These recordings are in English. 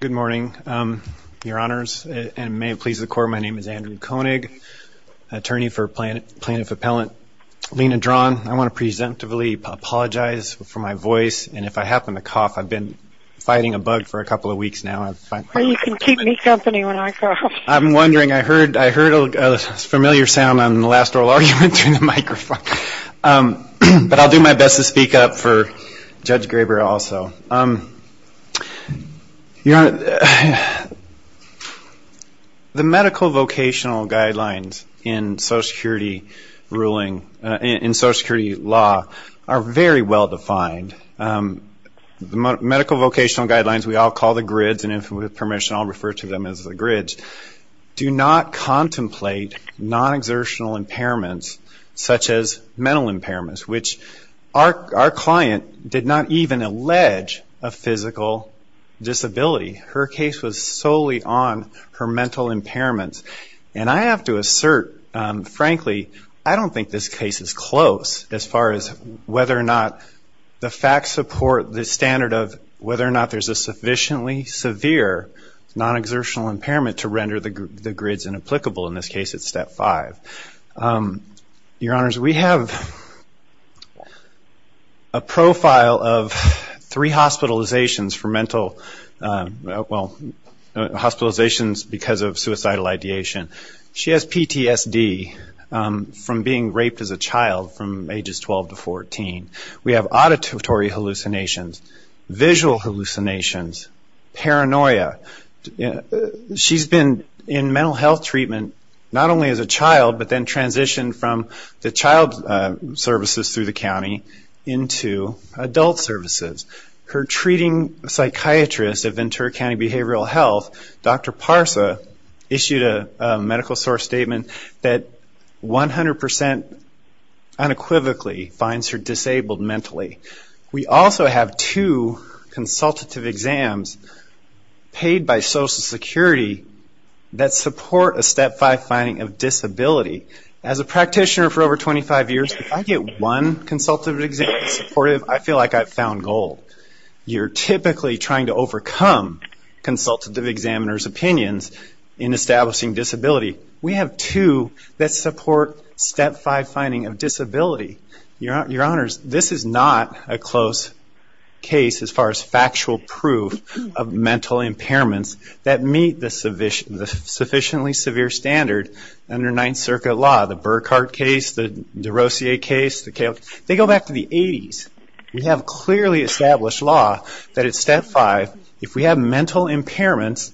Good morning your honors and may it please the court my name is Andrew Koenig, attorney for plaintiff appellant Lena Drawn. I want to presentively apologize for my voice and if I happen to cough I've been fighting a bug for a couple of weeks now. You can keep me company when I cough. I'm wondering I heard I heard a familiar sound on the last oral argument in the microphone but I'll do my best to speak up for Judge Graber also. The medical vocational guidelines in Social Security ruling in Social Security law are very well defined. The medical vocational guidelines we all call the grids and if with permission I'll refer to them as the grids do not contemplate non-exertional impairments such as mental impairments which our client did not even allege a physical disability. Her case was solely on her mental impairments and I have to assert frankly I don't think this case is close as far as whether or not the facts support the standard of whether or not there's a sufficiently severe non-exertional impairment to render the grids inapplicable. In this case it's step five. Your Honors, we have a profile of three hospitalizations for mental, well hospitalizations because of suicidal ideation. She has PTSD from being raped as a child from ages 12 to 14. We have auditory hallucinations, visual hallucinations, paranoia. She's been in mental health treatment not only as a child but then transitioned from the child services through the county into adult services. Her treating psychiatrist at Ventura County Behavioral Health, Dr. Parsa, issued a medical source statement that 100% unequivocally finds her disabled mentally. We also have two that support a step five finding of disability. As a practitioner for over 25 years, if I get one consultative examiner supportive, I feel like I've found gold. You're typically trying to overcome consultative examiners opinions in establishing disability. We have two that support step five finding of disability. Your Honors, this is not a close case as far as factual proof of mental impairments that meet the sufficiently severe standard under Ninth Circuit law, the Burkhart case, the Derosier case. They go back to the 80s. We have clearly established law that at step five, if we have mental impairments,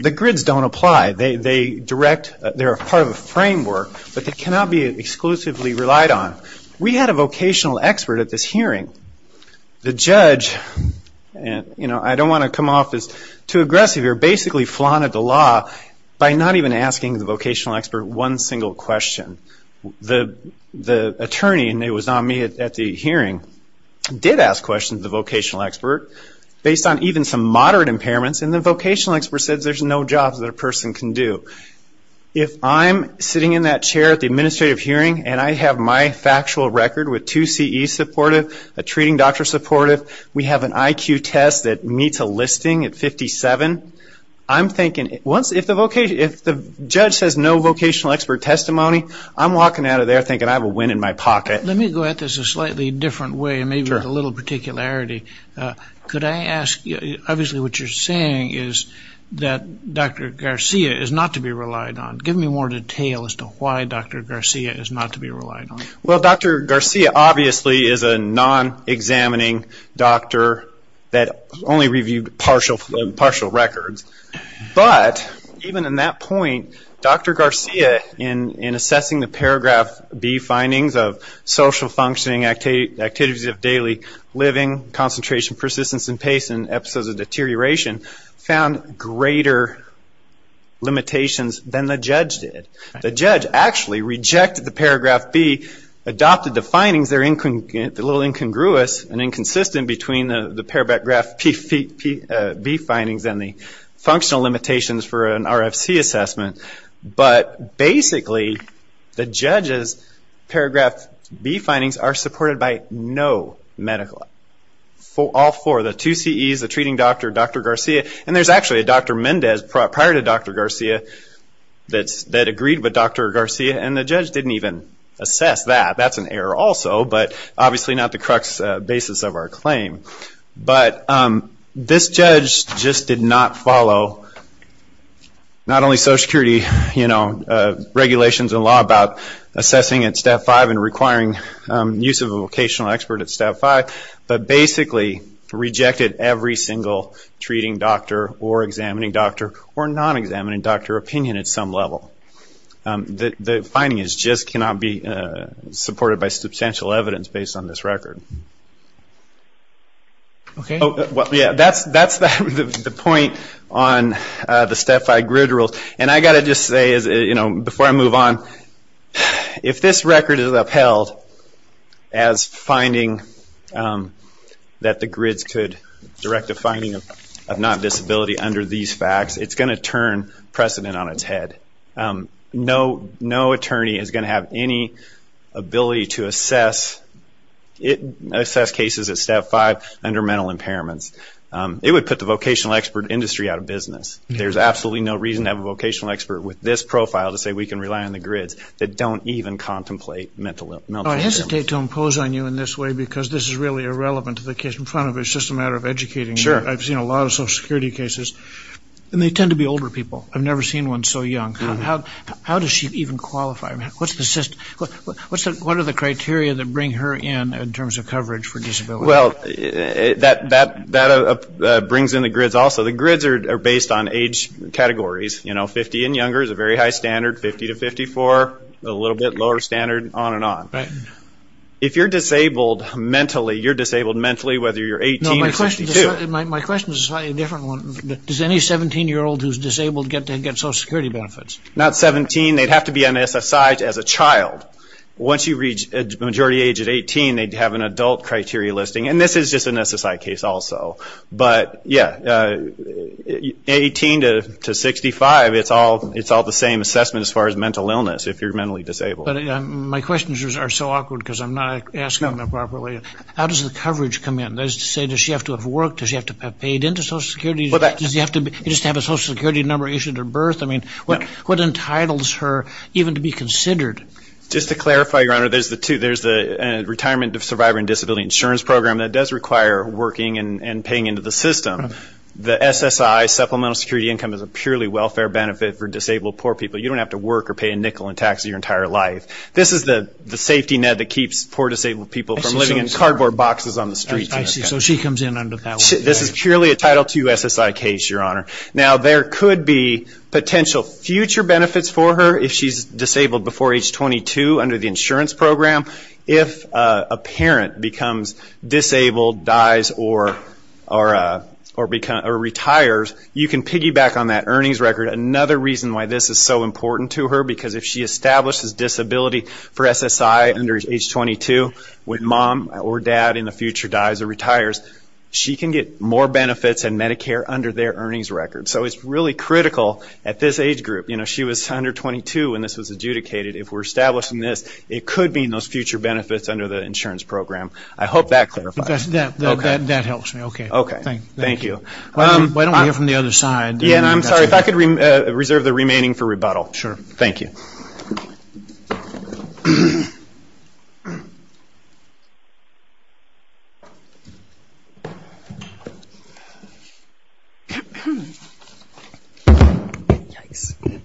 the grids don't apply. They are part of a framework but they cannot be exclusively relied on. We had a vocational expert at this hearing. The judge, I don't want to come off as too aggressive, basically flaunted the law by not even asking the vocational expert one single question. The attorney, and it was not me at the hearing, did ask questions to the vocational expert based on even some moderate impairments and the vocational expert said there's no jobs that a person can do. If I'm sitting in that chair at the administrative hearing and I have my factual record with two CE supportive, a treating doctor supportive, we have an IQ test that meets a listing at 57, I'm thinking, if the judge says no vocational expert testimony, I'm walking out of there thinking I have a win in my pocket. Let me go at this a slightly different way and maybe with a little particularity. Could I ask, obviously what you're saying is that Dr. Garcia is not to be relied on. Give me more detail as to why Dr. Garcia is not to be relied on. Dr. Garcia obviously is a non-examining doctor that only reviewed partial records. But even in that point, Dr. Garcia in assessing the paragraph B findings of social functioning, activities of daily living, concentration, persistence, and pace in episodes of deterioration, found greater limitations than the judge did. The judge actually rejected the paragraph B, adopted the findings, they're a little incongruous and inconsistent between the paragraph B findings and the functional limitations for an RFC assessment. But basically, the judge's paragraph B findings are supported by no medical, all four, the two CEs, the treating doctor, Dr. Garcia, and there's actually a Dr. Mendez prior to Dr. Garcia that agreed with Dr. Garcia, and the judge didn't even assess that. That's an error also, but obviously not the crux basis of our claim. But this judge just did not follow not only social security regulations and law about assessing at step five and requiring use of a vocational expert at step five, but basically rejected every single treating doctor or examining doctor or non-examining doctor opinion at some level. The findings just cannot be supported by substantial evidence based on this record. That's the point on the step five grid rule. And I've got to just say, before I move on, if this record is upheld as finding that the grids could direct a finding of non-disability under these facts, it's going to turn precedent on its head. No attorney is going to have any ability to assess cases at step five under mental impairments. It would put the vocational expert industry out of business. There's absolutely no reason to have a vocational expert with this profile to say we can rely on the grids that don't even contemplate mental impairments. I hesitate to impose on you in this way because this is really irrelevant to the case in front of us. It's just a matter of educating. I've seen a lot of social security cases, and they tend to be older people. I've never seen one so young. How does she even qualify? What are the criteria that bring her in in terms of coverage for disability? Well, that brings in the grids also. The grids are based on age categories. Fifty and younger is a very high standard. Fifty to fifty-four, a little bit lower standard, on and on. If you're disabled mentally, you're disabled mentally whether you're disabled or not. Does any seventeen-year-old who's disabled get social security benefits? Not seventeen. They'd have to be on SSI as a child. Once you reach a majority age of eighteen, they'd have an adult criteria listing. This is just an SSI case also. Eighteen to sixty-five, it's all the same assessment as far as mental illness if you're mentally disabled. My questions are so awkward because I'm not asking them properly. How does the coverage come in? Does she have to have worked? Does she have to have paid into social security? Does she have to have a social security number issued at birth? What entitles her even to be considered? Just to clarify, Your Honor, there's the Retirement Survivor and Disability Insurance Program that does require working and paying into the system. The SSI, Supplemental Security Income, is a purely welfare benefit for disabled poor people. You don't have to work or pay a nickel in tax your entire life. This is the safety net that keeps poor disabled people from living in cardboard boxes on the streets. I see. So she comes in under that one. This is purely a Title II SSI case, Your Honor. Now there could be potential future benefits for her if she's disabled before age 22 under the insurance program. If a parent becomes disabled, dies or retires, you can piggyback on that earnings record. Another reason why this is so important to her because if she establishes disability for SSI under age 22, when mom or dad in the future dies or retires, she can get more benefits in Medicare under their earnings record. So it's really critical at this age group. You know, she was under 22 when this was adjudicated. If we're establishing this, it could mean those future benefits under the insurance program. I hope that clarifies. That helps me. Okay. Okay. Thank you. Why don't we hear from the other side? Yeah, and I'm sorry. If I could reserve the remaining for rebuttal. Sure. Thank you.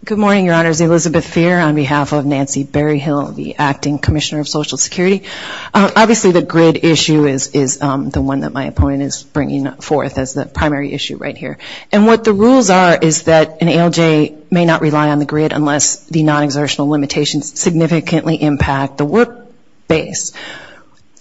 Good morning, Your Honors. Elizabeth Feer on behalf of Nancy Berryhill, the Acting Commissioner of Social Security. Obviously the grid issue is the one that my opponent is bringing forth as the primary issue right here. And what the rules are is that an ALJ may not rely on the grid unless the non-exertional limitations significantly impact the work base.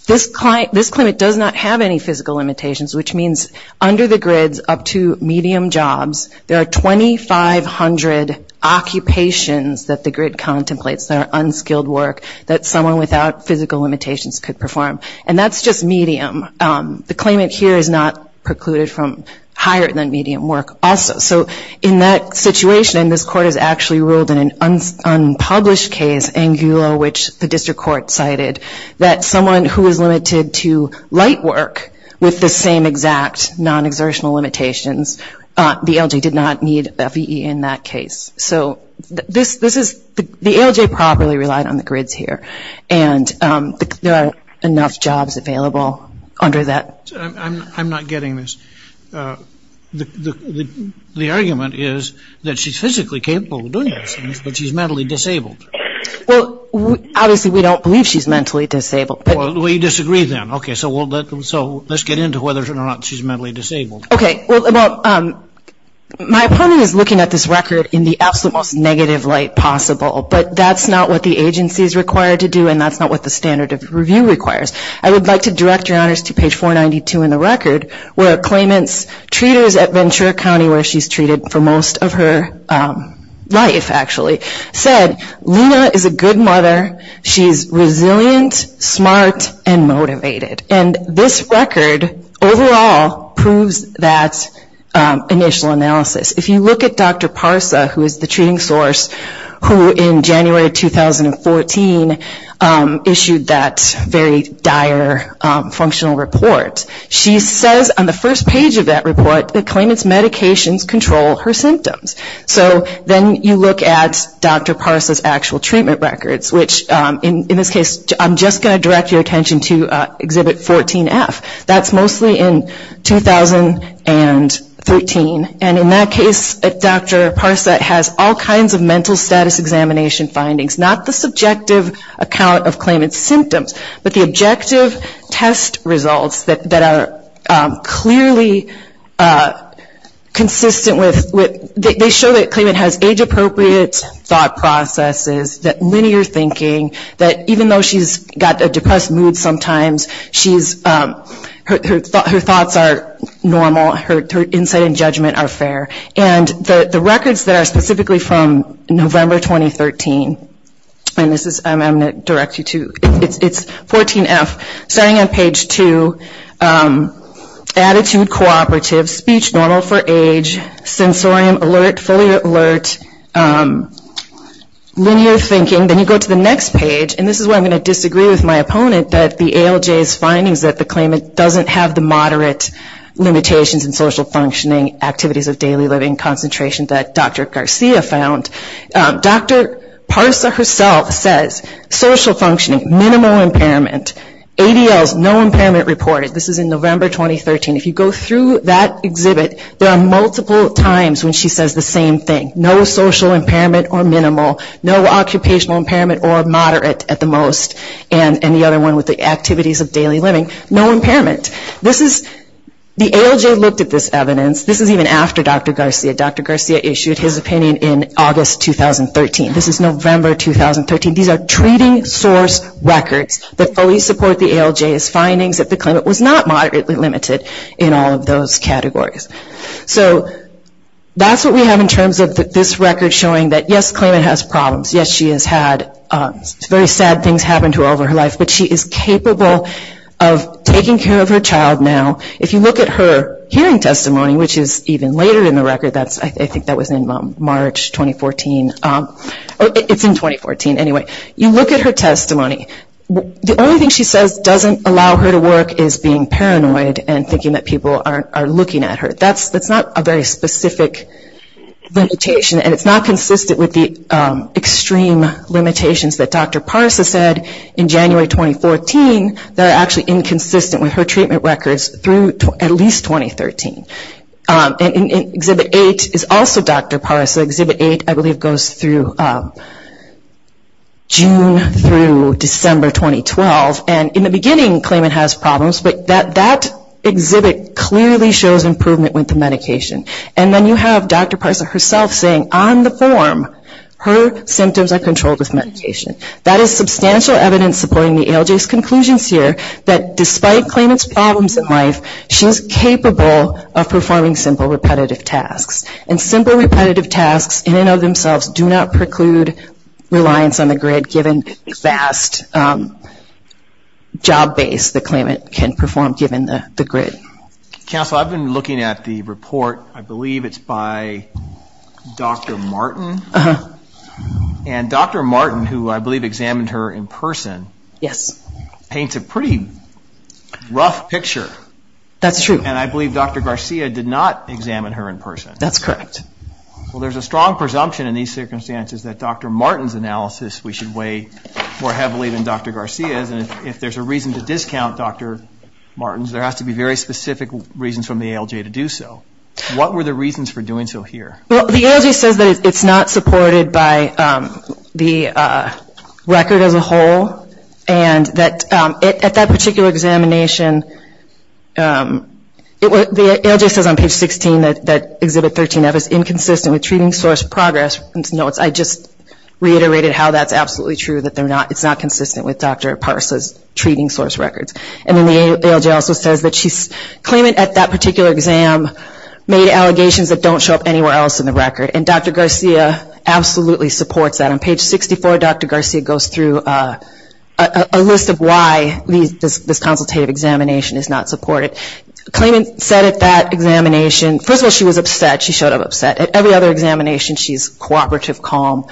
This claimant does not have any physical limitations, which means under the grids up to medium jobs, there are 2,500 occupations that the grid contemplates that are unskilled work that someone without physical limitations could perform. And that's just medium. The claimant here is not precluded from higher than medium work also. So in that situation, and this court has actually ruled in an unpublished case, Angulo, which the district court cited, that someone who is limited to light work with the same exact non-exertional limitations, the ALJ did not need FEE in that case. So this is, the ALJ properly relied on the grids here. And there are enough jobs available under that. I'm not getting this. The argument is that she's physically capable of doing those things, but she's mentally disabled. Well, obviously we don't believe she's mentally disabled. We disagree then. Okay. So let's get into whether or not she's mentally disabled. Okay. Well, my opponent is looking at this record in the absolute most negative light possible, but that's not what the agency is required to do, and that's not what the standard of review requires. I would like to direct your honors to page 492 in the record, where a claimant's treaters at Ventura County, where she's treated for most of her life, actually, said, Luna is a good mother. She's resilient, smart, and motivated. And this record overall proves that initial analysis. If you look at Dr. Parsa, who is the treating source, who in January 2014 issued that very dire functional report, she says on the first page of that report, the claimant's medications control her symptoms. So then you look at Dr. Parsa's actual treatment records, which in this case, I'm just going to direct your attention to Exhibit 14F. That's mostly in 2013, and in that case, Dr. Parsa has all kinds of mental status examination findings, not the subjective account of claimant's symptoms, but the objective test results that are clearly consistent with, they show that claimant has age appropriate thought processes, that linear thinking, that even though she's got a depressed mood sometimes, her thoughts are normal, her insight and judgment are fair. And the records that are specifically from November 2013, and this is, I'm going to direct you to, it's 14F, starting on page 2, attitude cooperative, speech normal for age, sensorium alert, fully alert, linear thinking. Then you go to the next page, and this is where I'm going to disagree with my opponent, that the ALJ's findings that the claimant doesn't have the moderate limitations in social functioning, activities of daily living, concentration that Dr. Garcia found. Dr. Parsa herself says social functioning, minimal impairment, ADLs, no impairment reported, this is in November 2013. If you go through that exhibit, there are multiple times when she says the same thing, no social impairment or minimal, no occupational impairment or moderate at the most, and the other one with the activities of daily living, no impairment. This is, the ALJ looked at this evidence, this is even after Dr. Garcia, Dr. Garcia issued his opinion in August 2013, this is November 2013, these are treating source records that fully support the ALJ's findings that the claimant was not moderately limited in all of those categories. So that's what we have in terms of this record showing that yes, the claimant has problems, yes she has had very sad things happen to her over her life, but she is capable of taking care of her child now. If you look at her hearing testimony, which is even later in the record, I think that was in March 2014, it's in 2014 anyway, you look at her testimony, the only thing she says doesn't allow her to work is being paranoid and thinking that people are looking at her. That's not a very specific limitation and it's not consistent with the extreme limitations that Dr. Parsa said in January 2014 that are actually inconsistent with her treatment records through at least 2013. Exhibit 8 is also Dr. Parsa, exhibit 8 I believe goes through June through December 2012 and in the beginning the claimant has problems, but that exhibit clearly shows improvement with the medication. And then you have Dr. Parsa herself saying on the form, her symptoms are controlled with medication. That is substantial evidence supporting the ALJ's claim that she is capable of performing simple repetitive tasks. And simple repetitive tasks in and of themselves do not preclude reliance on the grid given the vast job base the claimant can perform given the grid. Council, I've been looking at the report, I believe it's by Dr. Martin. And Dr. Martin, who I believe examined her in person, paints a pretty rough picture. And I believe Dr. Garcia did not examine her in person. Well, there's a strong presumption in these circumstances that Dr. Martin's analysis we should weigh more heavily than Dr. Garcia's and if there's a reason to discount Dr. Martin's, there has to be very specific reasons from the ALJ to do so. What were the reasons for doing so here? Well, the ALJ says that it's not supported by the record as a whole and that at that particular examination, the ALJ says on page 16 that exhibit 13F is inconsistent with treating source progress. I just reiterated how that's absolutely true, that it's not consistent with Dr. Parsa's treating source records. And then the ALJ also says that the claimant at that particular exam made allegations that don't show up anywhere else in the record. And Dr. Garcia absolutely supports that. On page 64, Dr. Garcia goes through a list of why this consultative examination is not supported. The claimant said at that examination, first of all, she was upset. She showed up upset. At every other examination, she's cooperative, calm.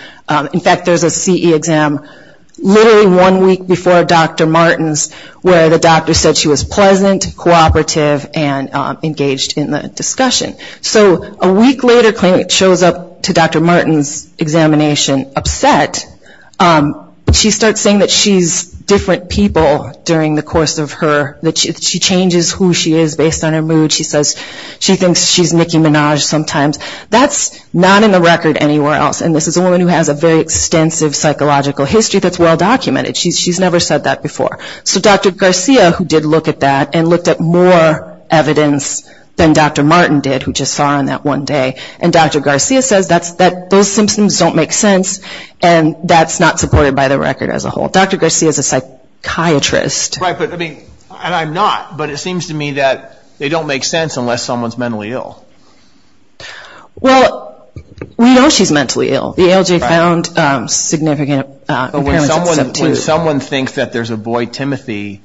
In fact, there's a CE exam literally one week before Dr. Martin's where the doctor said she was pleasant, cooperative, and engaged in the discussion. So a week later, the claimant shows up to Dr. Martin's examination upset. But she starts saying that she's different people during the course of her, that she changes who she is based on her mood. She says she thinks she's Nicki Minaj sometimes. That's not in the record anywhere else. And this is a woman who has a very extensive psychological history that's well documented. She's never said that before. So Dr. Garcia, who did look at that and looked at more evidence than Dr. Martin did, who just saw her on that one day, and Dr. Garcia says that those symptoms don't make sense, and that's not supported by the record as a whole. Dr. Garcia is a psychiatrist. Right, but I mean, and I'm not, but it seems to me that they don't make sense unless someone's mentally ill. Well, we know she's mentally ill. The ALJ found significant impairments in step two. But when someone thinks that there's a boy, Timothy,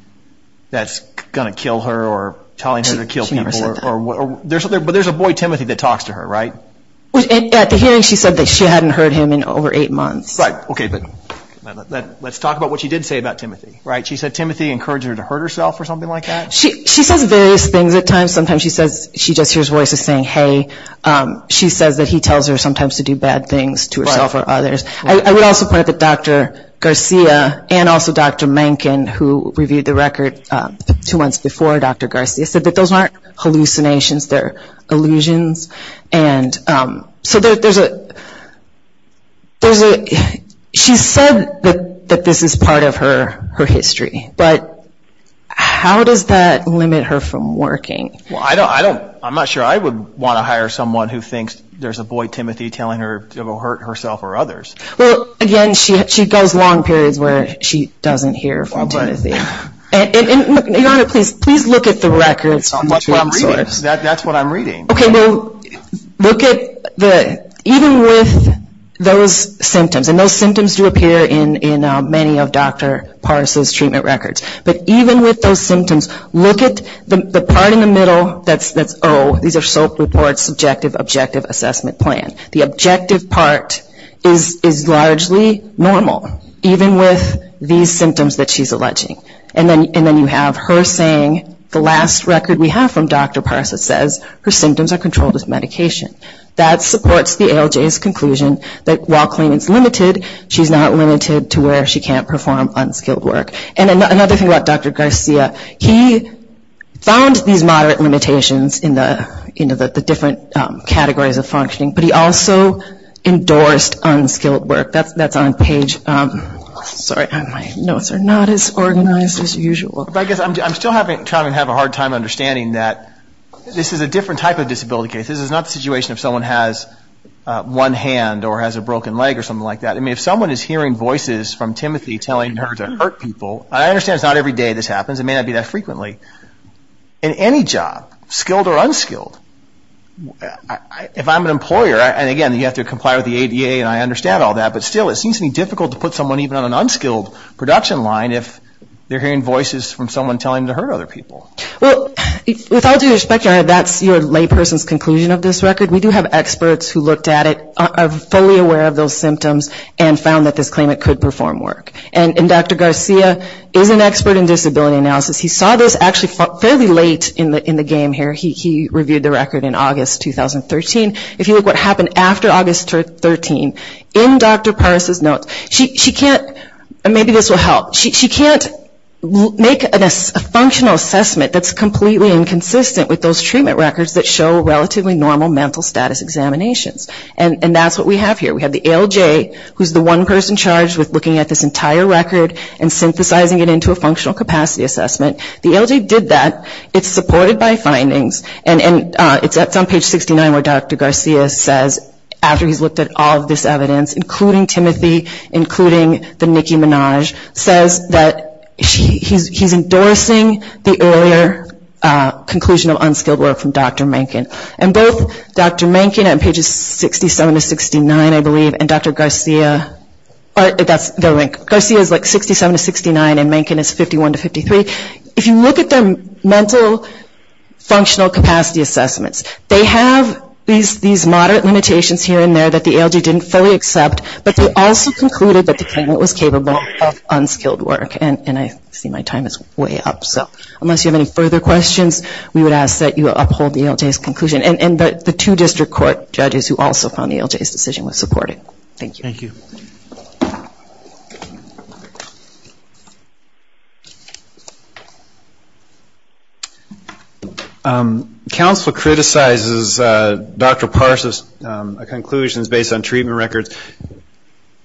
that's going to kill her or telling her to kill people. She never said that. But there's a boy, Timothy, that talks to her, right? At the hearing, she said that she hadn't heard him in over eight months. Right, okay, but let's talk about what she did say about Timothy, right? She said Timothy encouraged her to hurt herself or something like that? She says various things at times. Sometimes she says, she just hears voices saying, hey. She says that he tells her sometimes to do bad things to herself or others. I would also point out that Dr. Garcia and also Dr. Mencken, who reviewed the record two months before Dr. Garcia, said that those aren't hallucinations. They're illusions. She said that this is part of her history, but how does that limit her from working? I'm not sure I would want to hire someone who thinks there's a boy, Timothy, telling her to hurt herself or others. Well, again, she goes long periods where she doesn't hear from Timothy. Your Honor, please look at the records. That's what I'm reading. Okay, well, look at the, even with those symptoms, and those symptoms do appear in many of Dr. Parse's treatment records, but even with those symptoms, look at the part in the middle that's O, these are SOAP reports, subjective objective assessment plan. The objective part is largely normal, even with these symptoms that she's alleging. And then you have her saying, the last record we have from Dr. Parse that says her symptoms are controlled as medication. That supports the ALJ's conclusion that while clean is limited, she's not limited to where she can't perform unskilled work. And another thing about Dr. Garcia, he found these moderate limitations in the different categories of functioning, but he also endorsed unskilled work. That's on page, sorry, my notes are not as organized as usual. But I guess I'm still having, trying to have a hard time understanding that this is a different type of disability case. This is not the situation if someone has one hand or has a broken leg or something like that. I mean, if someone is hearing voices from Timothy telling her to hurt people, I understand it's not every day this happens. It may not be that frequently. In any job, skilled or unskilled, if I'm an employer, and again, you have to be a VA and I understand all that, but still, it seems to be difficult to put someone even on an unskilled production line if they're hearing voices from someone telling them to hurt other people. Well, with all due respect, that's your layperson's conclusion of this record. We do have experts who looked at it, are fully aware of those symptoms, and found that this claimant could perform work. And Dr. Garcia is an expert in disability analysis. He saw this actually fairly late in the game here. He reviewed the record in August 2013. If you look at what happened after August 2013, in Dr. Parse's notes, she can't, maybe this will help, she can't make a functional assessment that's completely inconsistent with those treatment records that show relatively normal mental status examinations. And that's what we have here. We have the ALJ, who is the one person charged with looking at this entire record and synthesizing it into a functional capacity assessment. The ALJ did that. It's supported by findings. And it's on page 69 where Dr. Garcia says, after he's looked at all of this evidence, including Timothy, including the Nicki Minaj, says that he's endorsing the earlier conclusion of unskilled work from Dr. Mankin. And both Dr. Mankin on pages 67 to 69, I believe, and Dr. Garcia, that's their link, Garcia is like 67 to 69 and Mankin is 51 to 53. If you look at their mental functional capacity assessments, they have these moderate limitations here and there that the ALJ didn't fully accept, but they also concluded that the claimant was capable of unskilled work. And I see my time is way up. So unless you have any further questions, we would ask that you uphold the ALJ's conclusion. And the two district court judges who also found the ALJ's decision was supportive. Thank you. Thank you. Counselor criticizes Dr. Parsons' conclusions based on treatment records.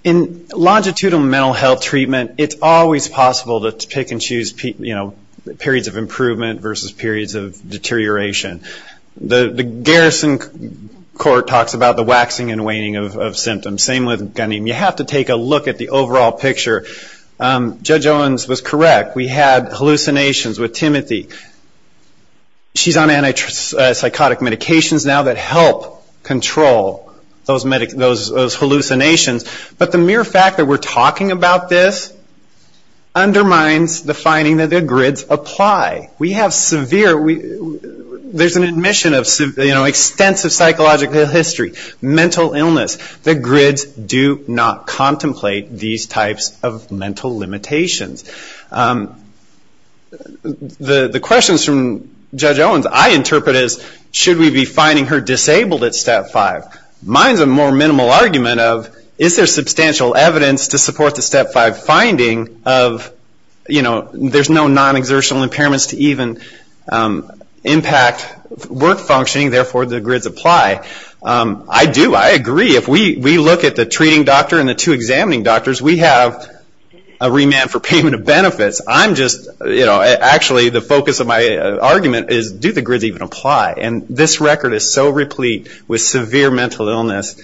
In longitudinal mental health treatment, it's always possible to pick and choose periods of improvement versus periods of deterioration. The Garrison court talks about the waxing and waning of symptoms. Same with Ghanem. You have to take a look at the overall picture. Judge Owens was correct. We had hallucinations with Timothy. She's on antipsychotic medications now that help control those hallucinations, but the mere fact that we're talking about this undermines the finding that the grids apply. We have severe, there's an admission of extensive psychological history, mental illness. The grids do not contemplate these types of mental limitations. The questions from Judge Owens I interpret as, should we be finding her disabled at Step 5? Mine's a more minimal argument of, is there substantial evidence to support the Step 5 finding of, you know, there's no non-exertional impairments to even impact work functioning, therefore the grids apply. I do. I agree. If we look at the treating doctor and the two examining doctors, we have a remand for payment of benefits. I'm just, you know, actually the focus of my argument is, do the grids even apply? And this record is so replete with severe mental illness,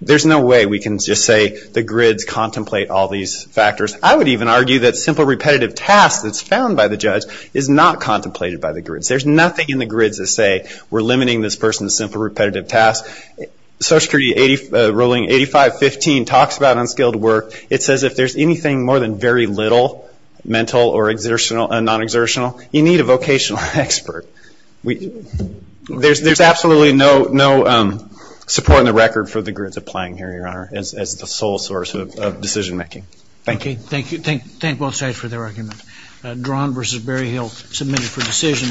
there's no way we can just say the grids contemplate all these factors. I would even argue that simple repetitive tasks that's found by the judge is not contemplated by the grids. There's nothing in the grids that say, we're limiting this person to simple repetitive tasks. Social Security ruling 8515 talks about unskilled work. It says if there's anything more than very little mental or non-exertional, you need a vocational expert. There's absolutely no support in the record for the grids applying here, Your Honor, as the sole source of decision making. Thank you. Thank you. Thank both sides for their arguments. Dran v. Berryhill submitted for decision.